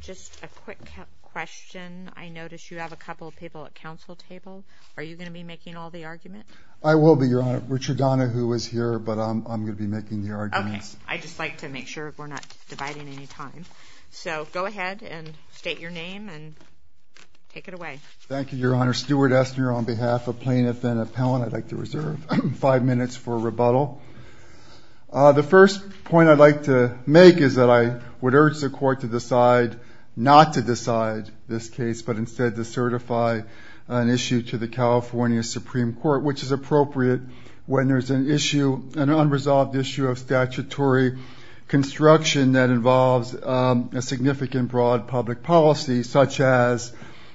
Just a quick question. I notice you have a couple of people at council table. Are you going to be making all the argument? I will be, Your Honor. Richard Donahue is here, but I'm going to be making the arguments. OK. I just like to make sure we're not dividing any time. So go ahead and state your name and take it away. Thank you, Your Honor. Stuart Estner on behalf of plaintiff and appellant. I'd like to reserve five minutes for rebuttal. The first point I'd like to make is that I would urge the court to decide not to decide this case, but instead to certify an issue to the California Supreme Court, which is appropriate when there's an issue, an unresolved issue, of statutory construction that involves a significant broad public policy, such as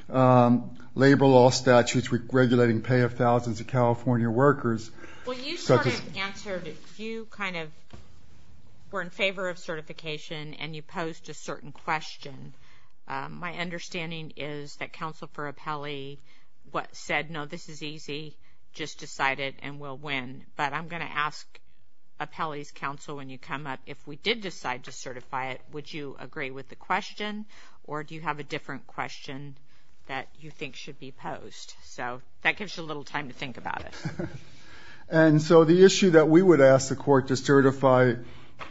labor law statutes regulating pay of thousands of California workers. Well, you sort of answered it. You kind of were in favor of certification, and you posed a certain question. My understanding is that counsel for appellee said, no, this is easy. Just decide it, and we'll win. But I'm going to ask appellee's counsel when you come up, if we did decide to certify it, would you agree with the question, or do you have a different question that you think should be posed? So that gives you a little time to think about it. And so the issue that we would ask the court to certify,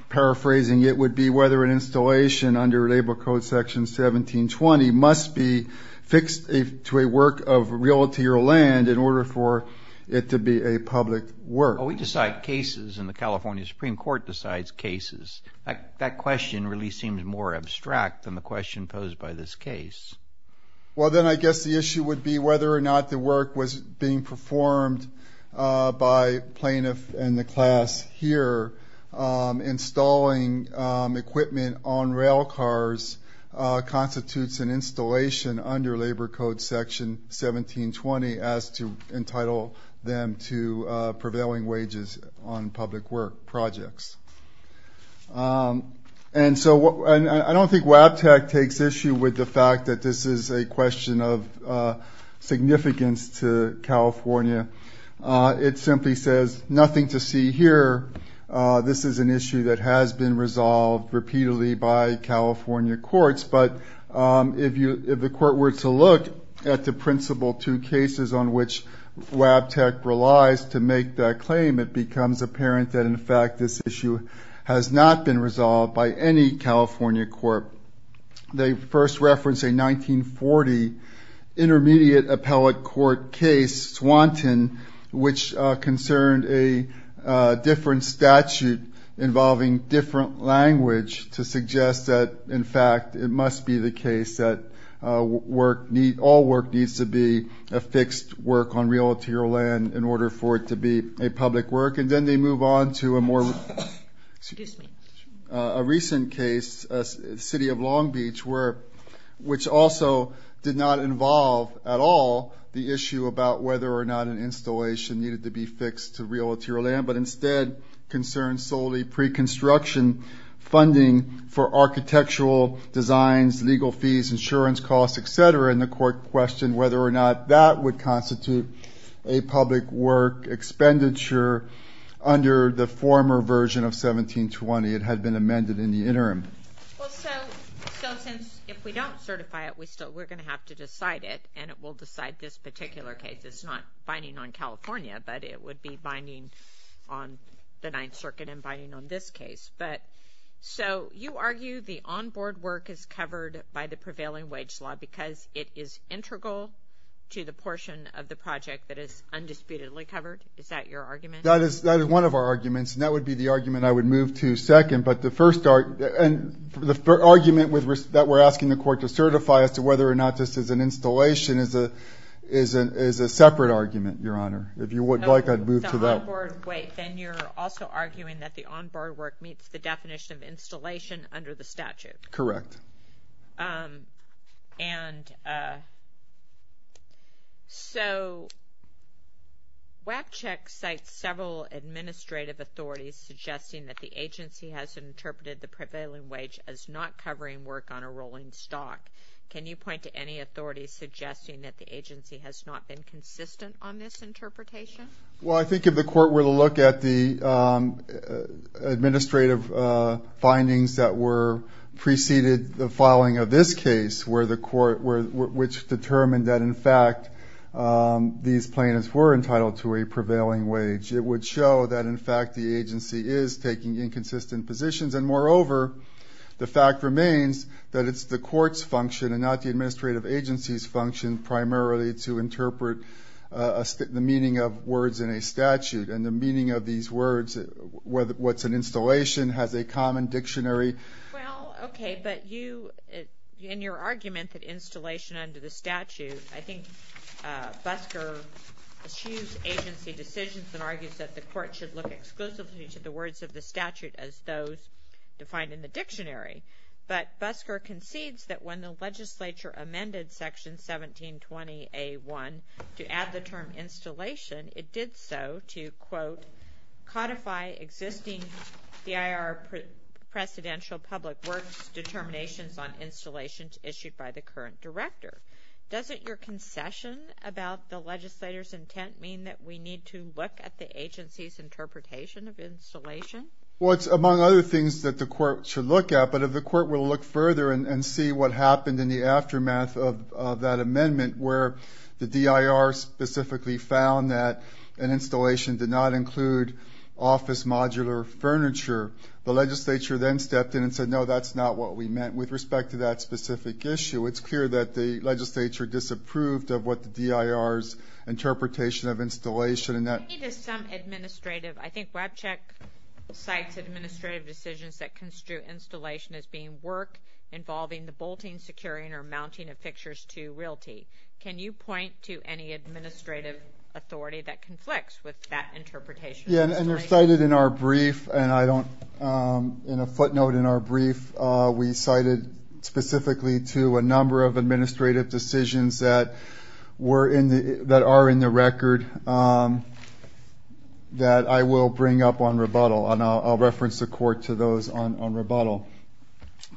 paraphrasing it, would be whether an installation under Labor Code Section 1720 must be fixed to a work of realty or land in order for it to be a public work. Oh, we decide cases, and the California Supreme Court decides cases. That question really seems more abstract than the question posed by this case. Well, then I guess the issue would be whether or not the work was being performed by plaintiff and the class here. Installing equipment on rail cars constitutes an installation under Labor Code Section 1720 as to entitle them to prevailing wages on public work projects. And so I don't think WABTC takes issue with the fact that this is a question of significance to California. It simply says, nothing to see here. This is an issue that has been resolved repeatedly by California courts. But if the court were to look at the principal two cases on which WABTC relies to make that claim, it becomes apparent that, in fact, this issue has not been resolved by any California court. They first reference a 1940 Intermediate Appellate Court case, Swanton, which concerned a different statute involving different language to suggest that, in fact, it must be the case that all work needs to be a fixed work on realtor land in order for it to be a public work. And then they move on to a more recent case, City of Long Beach, which also did not involve at all the issue about whether or not an installation needed to be fixed to realtor land, but instead concerned solely pre-construction funding for architectural designs, legal fees, insurance costs, et cetera. And the court questioned whether or not that would constitute a public work expenditure under the former version of 1720. It had been amended in the interim. Well, so since if we don't certify it, we're going to have to decide it. And it will decide this particular case. It's not binding on California, but it would be binding on the Ninth Circuit and binding on this case. So you argue the on-board work is covered by the prevailing wage law because it is integral to the portion of the project that is undisputedly covered? Is that your argument? That is one of our arguments. And that would be the argument I would move to second. But the first argument that we're asking the court to certify as to whether or not this is an installation is a separate argument, Your Honor. If you would like, I'd move to that. Wait, then you're also arguing that the on-board work meets the definition of installation under the statute. Correct. And so WACCHECK cites several administrative authorities suggesting that the agency has interpreted the prevailing wage as not covering work on a rolling stock. Can you point to any authorities suggesting that the agency has not been consistent on this interpretation? Well, I think if the court were to look at the administrative findings that preceded the filing of this case, which determined that, in fact, these plaintiffs were entitled to a prevailing wage, it would show that, in fact, the agency is taking inconsistent positions. And moreover, the fact remains that it's the court's function and not the administrative agency's function primarily to interpret the meaning of words in a statute. And the meaning of these words, what's an installation, has a common dictionary. Well, OK, but in your argument that installation under the statute, I think Busker eschews agency decisions and argues that the court should look exclusively to the words of the statute as those defined in the dictionary. But Busker concedes that when the legislature amended section 1720A1 to add the term installation, it did so to, quote, codify existing DIR presidential public works determinations on installations issued by the current director. Doesn't your concession about the legislator's intent mean that we need to look at the agency's interpretation of installation? Well, it's among other things that the court should look at. But if the court were to look further and see what happened in the aftermath of that amendment, where the DIR specifically found that an installation did not include office modular furniture, the legislature then stepped in and said, no, that's not what we meant with respect to that specific issue. It's clear that the legislature disapproved of what the DIR's interpretation of installation. And that is some administrative, I think, Webcheck cites administrative decisions that construe installation as being work involving the bolting, securing, or mounting of fixtures to realty. Can you point to any administrative authority that conflicts with that interpretation? Yeah, and they're cited in our brief. And I don't, in a footnote in our brief, we cited specifically to a number of administrative decisions that are in the record that I will bring up on rebuttal. And I'll reference the court to those on rebuttal.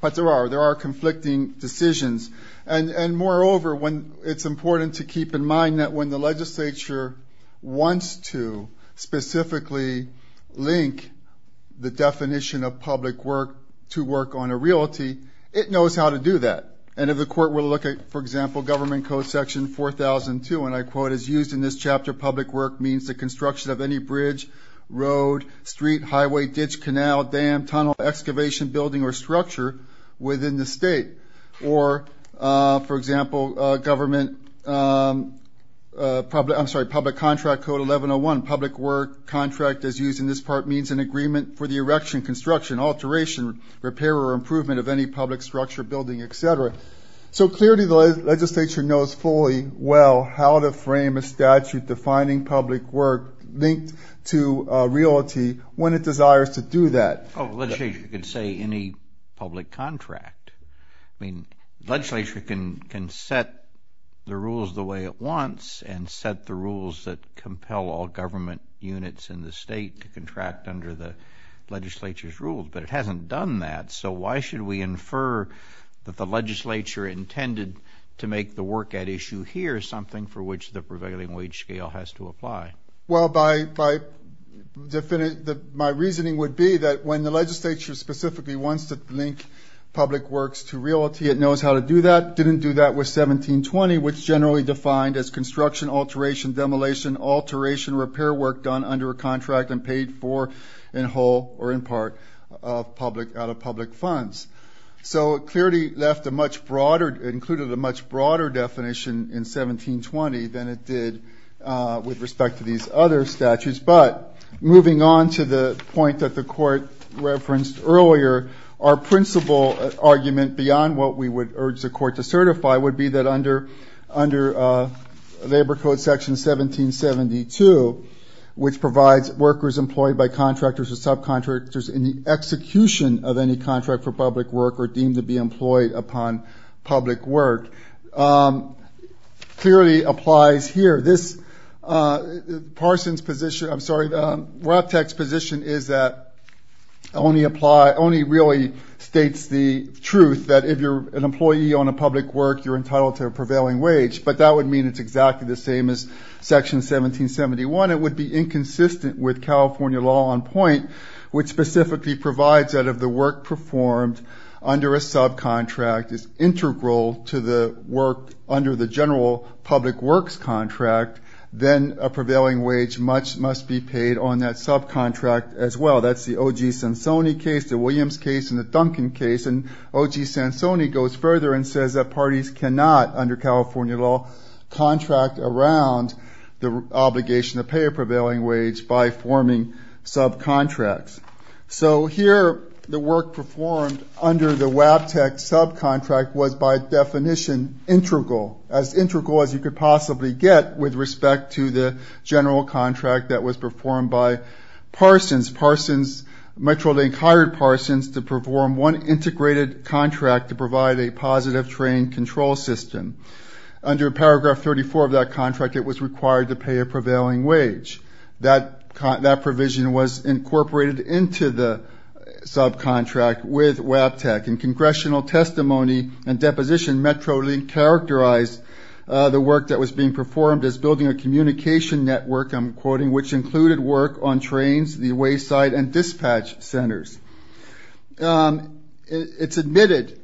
But there are conflicting decisions. And moreover, it's important to keep in mind that when the legislature wants to specifically link the definition of public work to work on a realty, it knows how to do that. And if the court were to look at, for example, government code section 4002, and I quote, as used in this chapter, public work means the construction of any bridge, road, street, highway, ditch, canal, dam, tunnel, excavation, building, or structure within the state. Or, for example, public contract code 1101, public work contract, as used in this part, means an agreement for the erection, construction, alteration, repair, or improvement of any public structure, building, et cetera. So clearly, the legislature knows fully well how to frame a statute defining public work linked to realty when it desires to do that. Oh, the legislature can say any public contract. I mean, the legislature can set the rules the way it wants and set the rules that compel all government units in the state to contract under the legislature's rules. But it hasn't done that. So why should we infer that the legislature intended to make the work at issue here something for which the prevailing wage scale has to apply? Well, my reasoning would be that when the legislature specifically wants to link public works to realty, it knows how to do that. Didn't do that with 1720, which generally defined as construction, alteration, demolition, alteration, repair work done under a contract and paid for in whole or in part out of public funds. So it clearly included a much broader definition in 1720 than it did with respect to these other statutes. But moving on to the point that the court referenced earlier, our principal argument beyond what we would urge the court to certify would be that under labor code section 1772, which provides workers employed by contractors or subcontractors in the execution of any contract for public work or deemed to be employed upon public work, clearly applies here. This Parsons position, I'm sorry, Rupp Tech's position is that only really states the truth that if you're an employee on a public work, you're entitled to a prevailing wage. But that would mean it's exactly the same as section 1771. It would be inconsistent with California law on point, which specifically provides that if the work performed under a subcontract is integral to the work under the general public works contract, then a prevailing wage must be paid on that subcontract as well. That's the OG Sansoni case, the Williams case, and the Duncan case. And OG Sansoni goes further and says that parties cannot, under California law, contract around the obligation to pay a prevailing wage by forming subcontracts. So here, the work performed under the WAB Tech subcontract was by definition integral, as integral as you could possibly get with respect to the general contract that was performed by Parsons. Metrolink hired Parsons to perform one integrated contract to provide a positive train control system. Under paragraph 34 of that contract, it was required to pay a prevailing wage. That provision was incorporated into the subcontract with WAB Tech. In congressional testimony and deposition, Metrolink characterized the work that was being performed as building a communication network, I'm quoting, which included work on trains, the wayside, and dispatch centers. It's admitted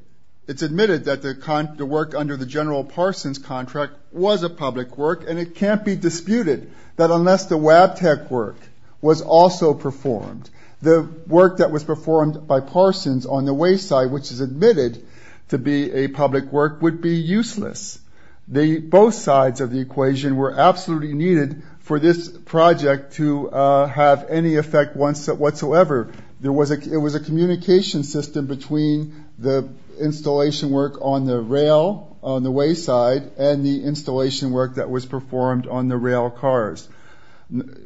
that the work under the general Parsons contract was a public work. And it can't be disputed that unless the WAB Tech work was also performed, the work that was performed by Parsons on the wayside, which is admitted to be a public work, would be useless. Both sides of the equation were absolutely needed for this project to have any effect whatsoever. It was a communication system between the installation work on the rail, on the wayside, and the installation work that was performed on the rail cars.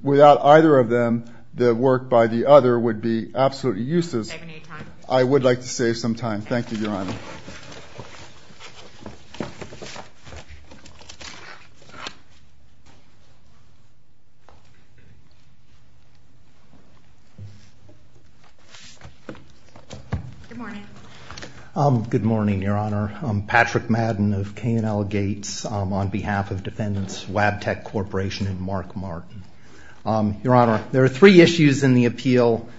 Without either of them, the work by the other would be absolutely useless. I would like to save some time. Thank you, Your Honor. Good morning, Your Honor. Patrick Madden of K&L Gates on behalf of Defendants WAB Tech Corporation and Mark Martin. Your Honor, there are three issues in the appeal,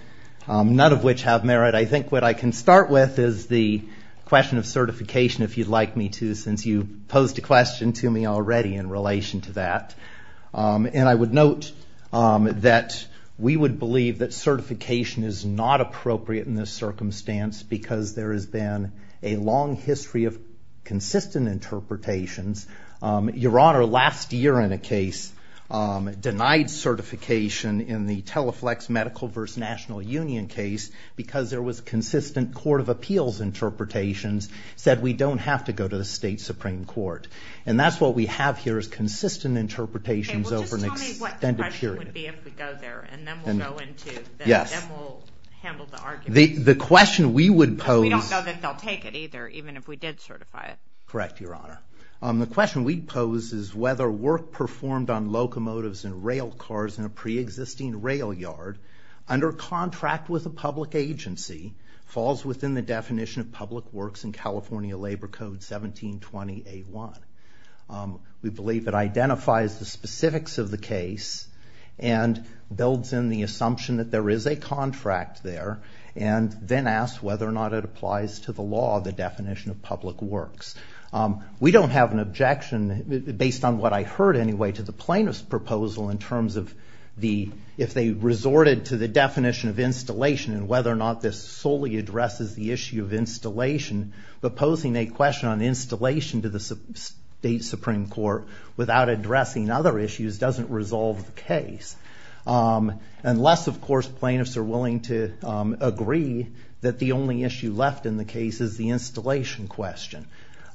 none of which have merit. I think what I can start with is the question of certification, if you'd like me to, since you posed a question to me already in relation to that. And I would note that we would believe that certification is not appropriate in this circumstance because there has been a long history of consistent interpretations. Your Honor, last year in a case, denied certification in the Teleflex Medical versus National Union case because there was consistent Court of Appeals interpretations, said we don't have to go to the state Supreme Court. And that's what we have here is consistent interpretations over an extended period. OK, well just tell me what the question would be if we go there, and then we'll go into, then we'll handle the arguments. The question we would pose. We don't know that they'll take it either, even if we did certify it. Correct, Your Honor. The question we'd pose is whether work performed on locomotives and rail cars in a pre-existing rail yard under contract with a public agency falls within the definition of public works in California Labor Code 1720A1. We believe it identifies the specifics of the case and builds in the assumption that there is a contract there. Then ask whether or not it applies to the law, the definition of public works. We don't have an objection, based on what I heard anyway, to the plaintiff's proposal in terms of if they resorted to the definition of installation and whether or not this solely addresses the issue of installation. But posing a question on installation to the state Supreme Court without addressing other issues doesn't resolve the case. Unless, of course, plaintiffs are willing to agree that the only issue left in the case is the installation question.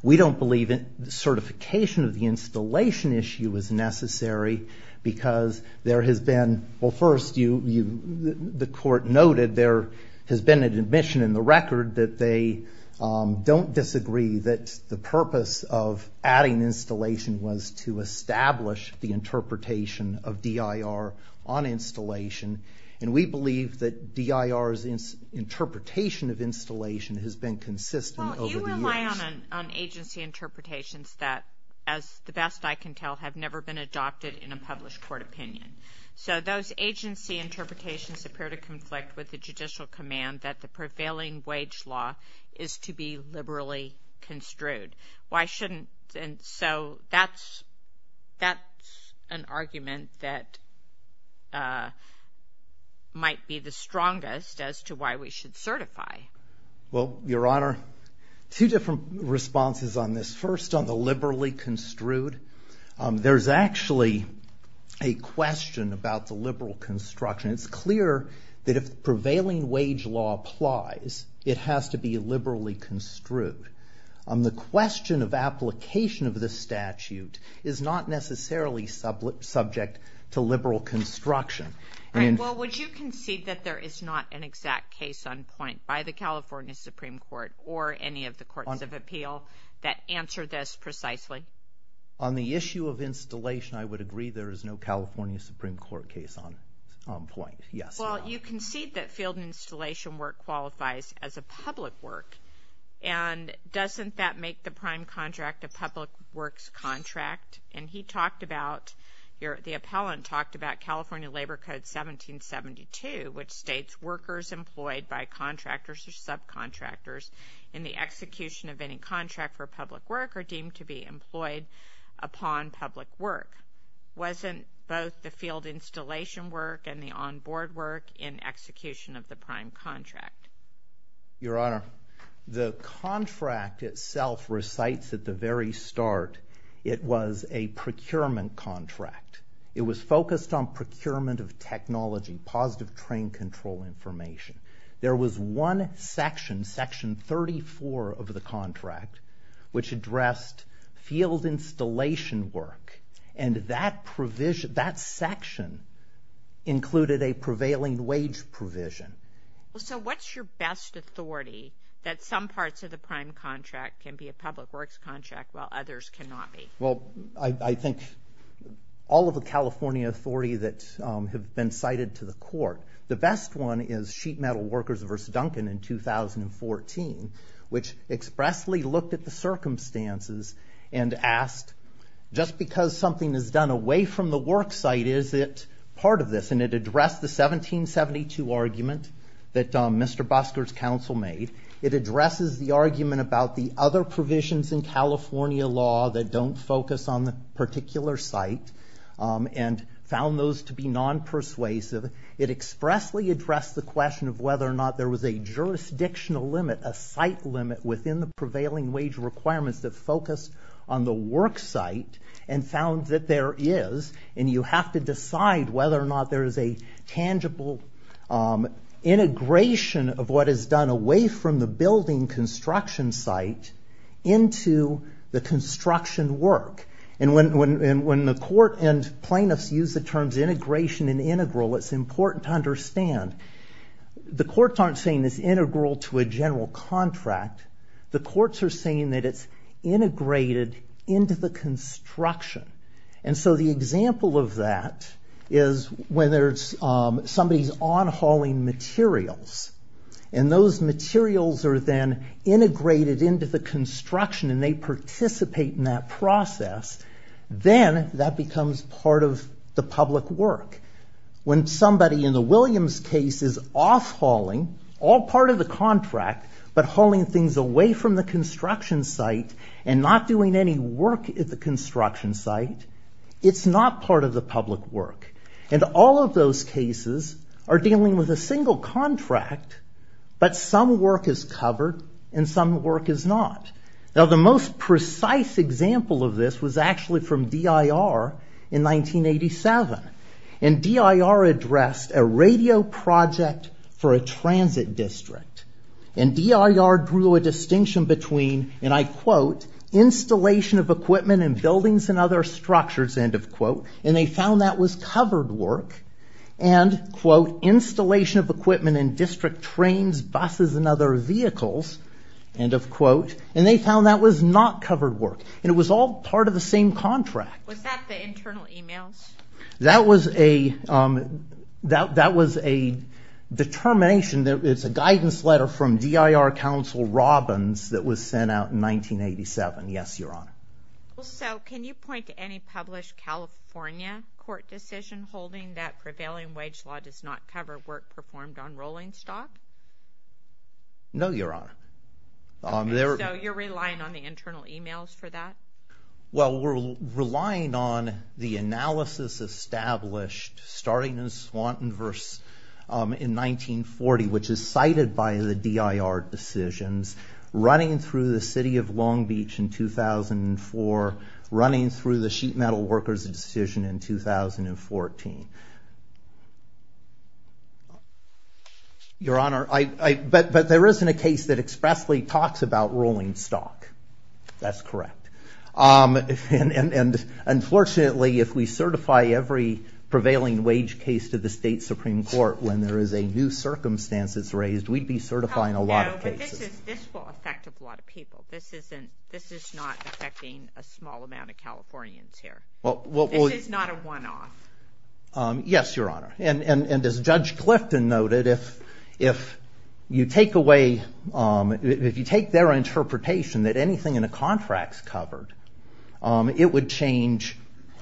We don't believe certification of the installation issue is necessary because there has been, well first, the court noted there has been an admission in the record that they don't disagree that the purpose of adding installation was to establish the interpretation of DIR on installation. And we believe that DIR's interpretation of installation has been consistent over the years. Well, you rely on agency interpretations that, as the best I can tell, have never been adopted in a published court opinion. So those agency interpretations appear to conflict with the judicial command that the prevailing wage law is to be liberally construed. Why shouldn't? And so that's an argument that might be the strongest as to why we should certify. Well, Your Honor, two different responses on this. First, on the liberally construed, there's actually a question about the liberal construction. It's clear that if the prevailing wage law applies, it has to be liberally construed. The question of application of the statute is not necessarily subject to liberal construction. Well, would you concede that there is not an exact case on point by the California Supreme Court or any of the courts of appeal that answer this precisely? On the issue of installation, I would agree there is no California Supreme Court case on point. Yes, Your Honor. Well, you concede that field installation work qualifies as a public work. And doesn't that make the prime contract a public works contract? And the appellant talked about California Labor Code 1772, which states workers employed by contractors or subcontractors in the execution of any contract for public work are deemed to be employed upon public work. Wasn't both the field installation work and the onboard work in execution of the prime contract? Your Honor, the contract itself recites at the very start it was a procurement contract. It was focused on procurement of technology, positive train control information. There was one section, section 34 of the contract, which addressed field installation work. And that section included a prevailing wage provision. So what's your best authority that some parts of the prime contract can be a public works contract, while others cannot be? Well, I think all of the California authority that have been cited to the court. The best one is Sheet Metal Workers v. Duncan in 2014, which expressly looked at the circumstances and asked, just because something is done away from the work site, is it part of this? And it addressed the 1772 argument that Mr. Busker's counsel made. It addresses the argument about the other provisions in California law that don't focus on the particular site and found those to be non-persuasive. It expressly addressed the question of whether or not there was a jurisdictional limit, a site limit within the prevailing wage requirements that focus on the work site and found that there is. And you have to decide whether or not there is a tangible integration of what is done away from the building construction site into the construction work. And when the court and plaintiffs use the terms integration and integral, it's important to understand the courts aren't saying it's integral to a general contract. The courts are saying that it's integrated into the construction. And so the example of that is when somebody's on-hauling materials. And those materials are then integrated into the construction. And they participate in that process. Then that becomes part of the public work. When somebody in the Williams case is off-hauling all part of the contract, but hauling things away from the construction site and not doing any work at the construction site, it's not part of the public work. And all of those cases are dealing with a single contract, but some work is covered and some work is not. Now the most precise example of this was actually from DIR in 1987. And DIR addressed a radio project for a transit district. And DIR drew a distinction between, and I quote, installation of equipment in buildings and other structures, end of quote. And they found that was covered work. And quote, installation of equipment in district trains, buses, and other vehicles, end of quote. And they found that was not covered work. And it was all part of the same contract. Was that the internal emails? That was a determination. It's a guidance letter from DIR counsel Robbins that was sent out in 1987. Yes, Your Honor. So can you point to any published California court decision holding that prevailing wage law does not cover work performed on rolling stock? No, Your Honor. So you're relying on the internal emails for that? Well, we're relying on the analysis established starting in Swanton versus in 1940, which is cited by the DIR decisions, running through the city of Long Beach in 2004, running through the sheet metal workers decision in 2014. Your Honor, but there isn't a case that expressly talks about rolling stock. That's correct. And unfortunately, if we certify every prevailing wage case to the state Supreme Court when there is a new circumstance that's raised, we'd be certifying a lot of cases. No, but this will affect a lot of people. This is not affecting a small amount of Californians here. This is not a one-off. Yes, Your Honor. And as Judge Clifton noted, if you take their interpretation that anything in a contract's covered, it would change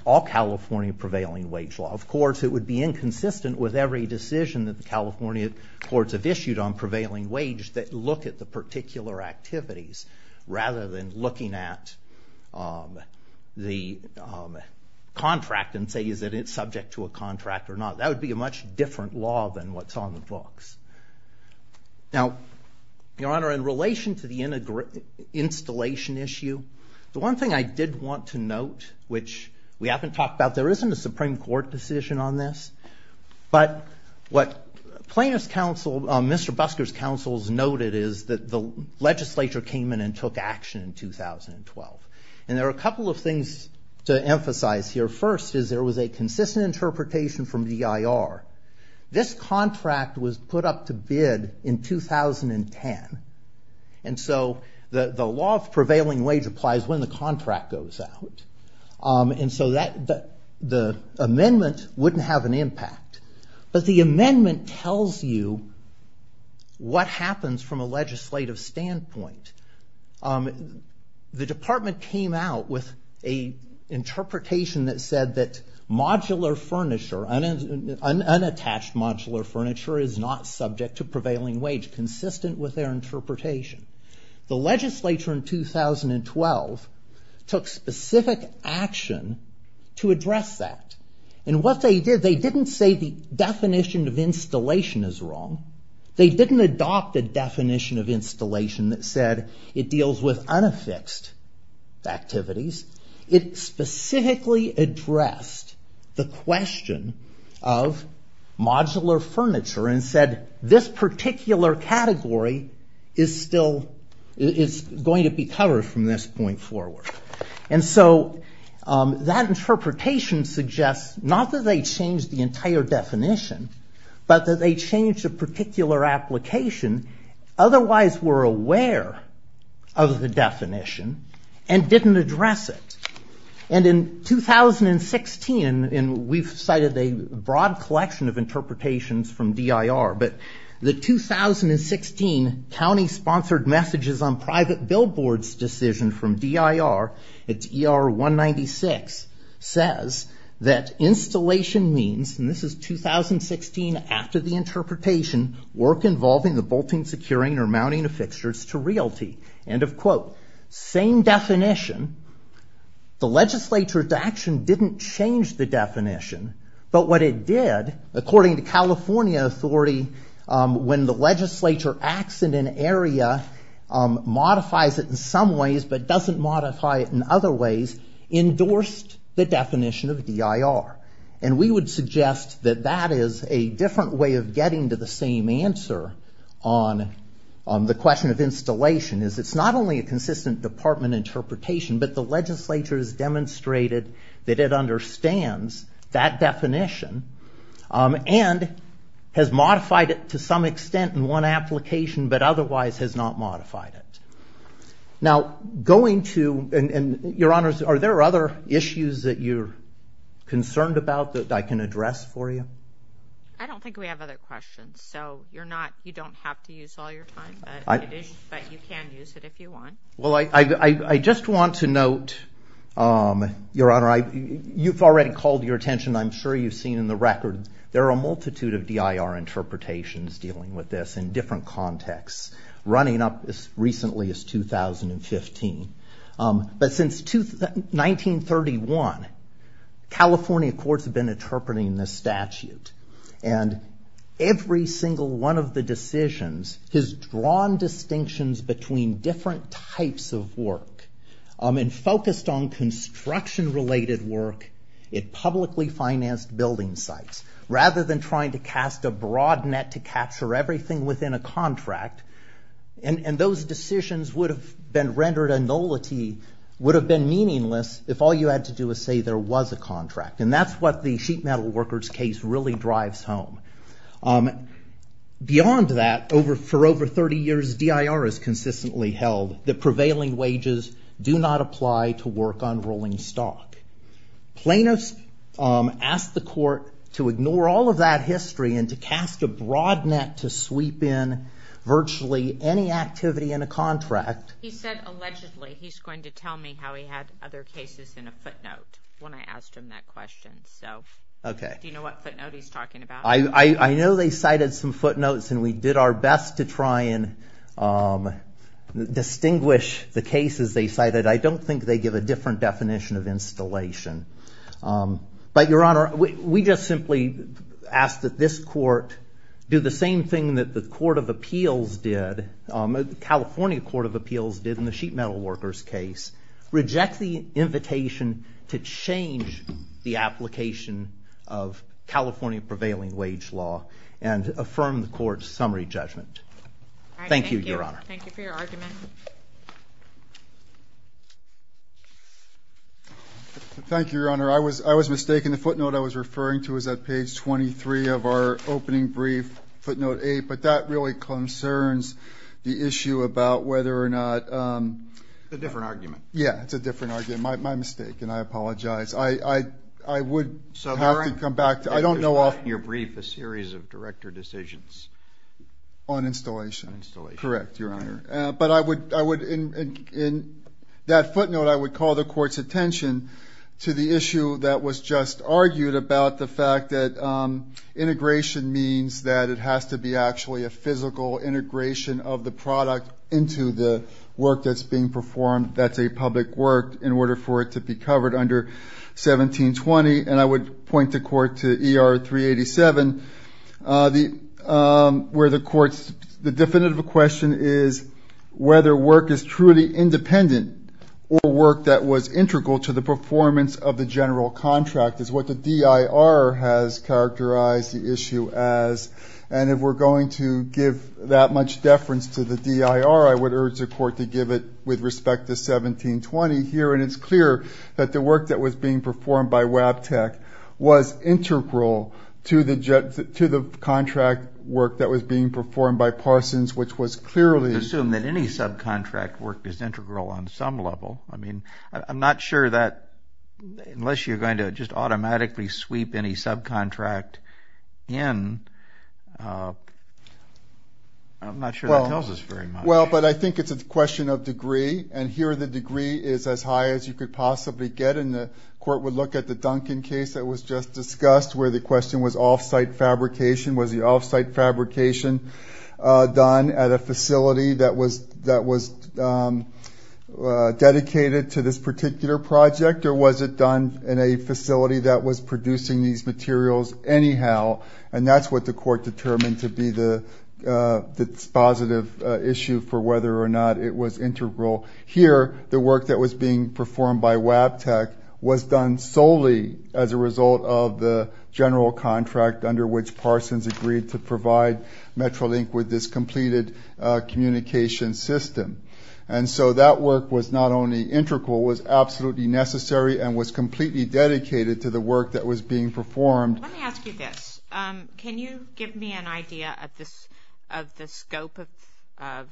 all California prevailing wage law. Of course, it would be inconsistent with every decision that the California courts have issued on prevailing wage that look at the particular activities rather than looking at the contract and say, is it subject to a contract or not? That would be a much different law than what's on the books. Now, Your Honor, in relation to the installation issue, the one thing I did want to note, which we haven't talked about, there isn't a Supreme Court decision on this. But what Mr. Busker's counsel's noted is that the legislature came in and took action in 2012. And there are a couple of things to emphasize here. First is there was a consistent interpretation from DIR. This contract was put up to bid in 2010. And so the law of prevailing wage applies when the contract goes out. And so the amendment wouldn't have an impact. But the amendment tells you what happens from a legislative standpoint. The department came out with a interpretation that said that modular furniture, unattached modular furniture, is not subject to prevailing wage, consistent with their interpretation. The legislature in 2012 took specific action to address that. And what they did, they didn't say the definition of installation is wrong. They didn't adopt a definition of installation that said it deals with unaffixed activities. It specifically addressed the question of modular furniture and said, this particular category is going to be covered from this point forward. And so that interpretation suggests not that they changed the entire definition, but that they changed a particular application. Otherwise, we're aware of the definition and didn't address it. And in 2016, and we've cited a broad collection of interpretations from DIR, but the 2016 county sponsored messages on private billboards decision from DIR, it's ER 196, says that installation means, and this is 2016 after the interpretation, work involving the bolting, securing, or mounting of fixtures to realty. End of quote. Same definition. The legislature's action didn't change the definition. But what it did, according to California authority, when the legislature acts in an area, modifies it in some ways, but doesn't modify it in other ways, endorsed the definition of DIR. And we would suggest that that is a different way of getting to the same answer on the question of installation, is it's not only a consistent department interpretation, but the legislature has demonstrated that it understands that definition and has modified it to some extent in one application, but otherwise has not modified it. Now, going to, and your honors, are there other issues that you're concerned about that I can address for you? I don't think we have other questions, so you're not, you don't have to use all your time, but you can use it if you want. Well, I just want to note, your honor, you've already called your attention, I'm sure you've seen in the records, there are a multitude of DIR interpretations dealing with this in different contexts. Running up as recently as 2015. But since 1931, California courts have been interpreting this statute. And every single one of the decisions has drawn distinctions between different types of work. And focused on construction-related work, it publicly financed building sites, rather than trying to cast a broad net to capture everything within a contract. And those decisions would have been rendered a nullity, would have been meaningless, if all you had to do was say there was a contract. And that's what the sheet metal workers case really drives home. Beyond that, for over 30 years, DIR has consistently held that prevailing wages do not apply to work on rolling stock. Plaintiffs asked the court to ignore all of that history and to cast a broad net to sweep in virtually any activity in a contract. He said allegedly he's going to tell me how he had other cases in a footnote when I asked him that question. So do you know what footnote he's talking about? I know they cited some footnotes, and we did our best to try and distinguish the cases they cited. I don't think they give a different definition of installation. But Your Honor, we just simply ask that this court do the same thing that the California Court of Appeals did in the sheet metal workers case. Reject the invitation to change the application of California prevailing wage law, and affirm the court's summary judgment. Thank you, Your Honor. Thank you for your argument. Thank you, Your Honor. I was mistaken. The footnote I was referring to is at page 23 of our opening brief, footnote eight. But that really concerns the issue about whether or not. It's a different argument. Yeah, it's a different argument. My mistake, and I apologize. I would have to come back to it. In your brief, a series of director decisions. On installation. Correct, Your Honor. But in that footnote, I would call the court's attention to the issue that was just argued about the fact that integration means that it has to be actually a physical integration of the product into the work that's being performed. That's a public work in order for it to be covered under 1720. And I would point the court to ER 387, where the court's, the definitive question is whether work is truly independent or work that was integral to the performance of the general contract, is what the DIR has characterized the issue as. And if we're going to give that much deference to the DIR, I would urge the court to give it with respect to 1720 here. And it's clear that the work that was being performed by Wabtec was integral to the contract work that was being performed by Parsons, which was clearly. Assume that any subcontract work is integral on some level. I mean, I'm not sure that, unless you're going to just automatically sweep any subcontract in, I'm not sure that tells us very much. Well, but I think it's a question of degree. And here, the degree is as high as you could possibly get. And the court would look at the Duncan case that was just discussed, where the question was off-site fabrication. Was the off-site fabrication done at a facility that was dedicated to this particular project? Or was it done in a facility that was producing these materials anyhow? And that's what the court determined to be the positive issue for whether or not it was integral. Here, the work that was being performed by Wabtec was done solely as a result of the general contract under which Parsons agreed to provide Metrolink with this completed communication system. And so that work was not only integral, it was absolutely necessary and was completely dedicated to the work that was being performed. Let me ask you this. Can you give me an idea of the scope of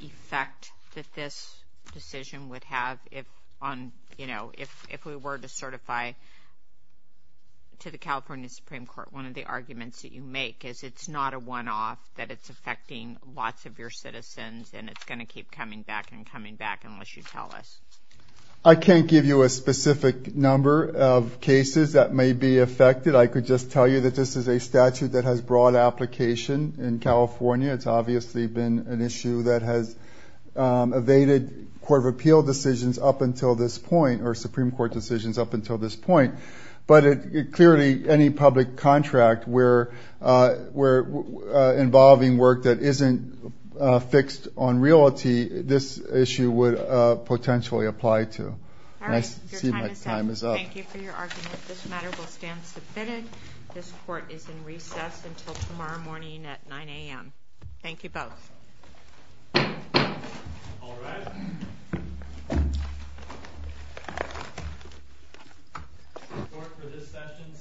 effect that this decision would have if we were to certify to the California Supreme Court one of the arguments that you make? Is it's not a one-off, that it's affecting lots of your citizens, and it's going to keep coming back and coming back unless you tell us? I can't give you a specific number of cases that may be affected. I could just tell you that this is a statute that has broad application in California. It's obviously been an issue that has evaded Court of Appeal decisions up until this point, or Supreme Court decisions up until this point. But clearly, any public contract where involving work that isn't fixed on reality, this issue would potentially apply to. All right, your time is up. Thank you for your argument. This matter will stand submitted. This court is in recess until tomorrow morning at 9 AM. Thank you both. Court, for this session, stands adjourned.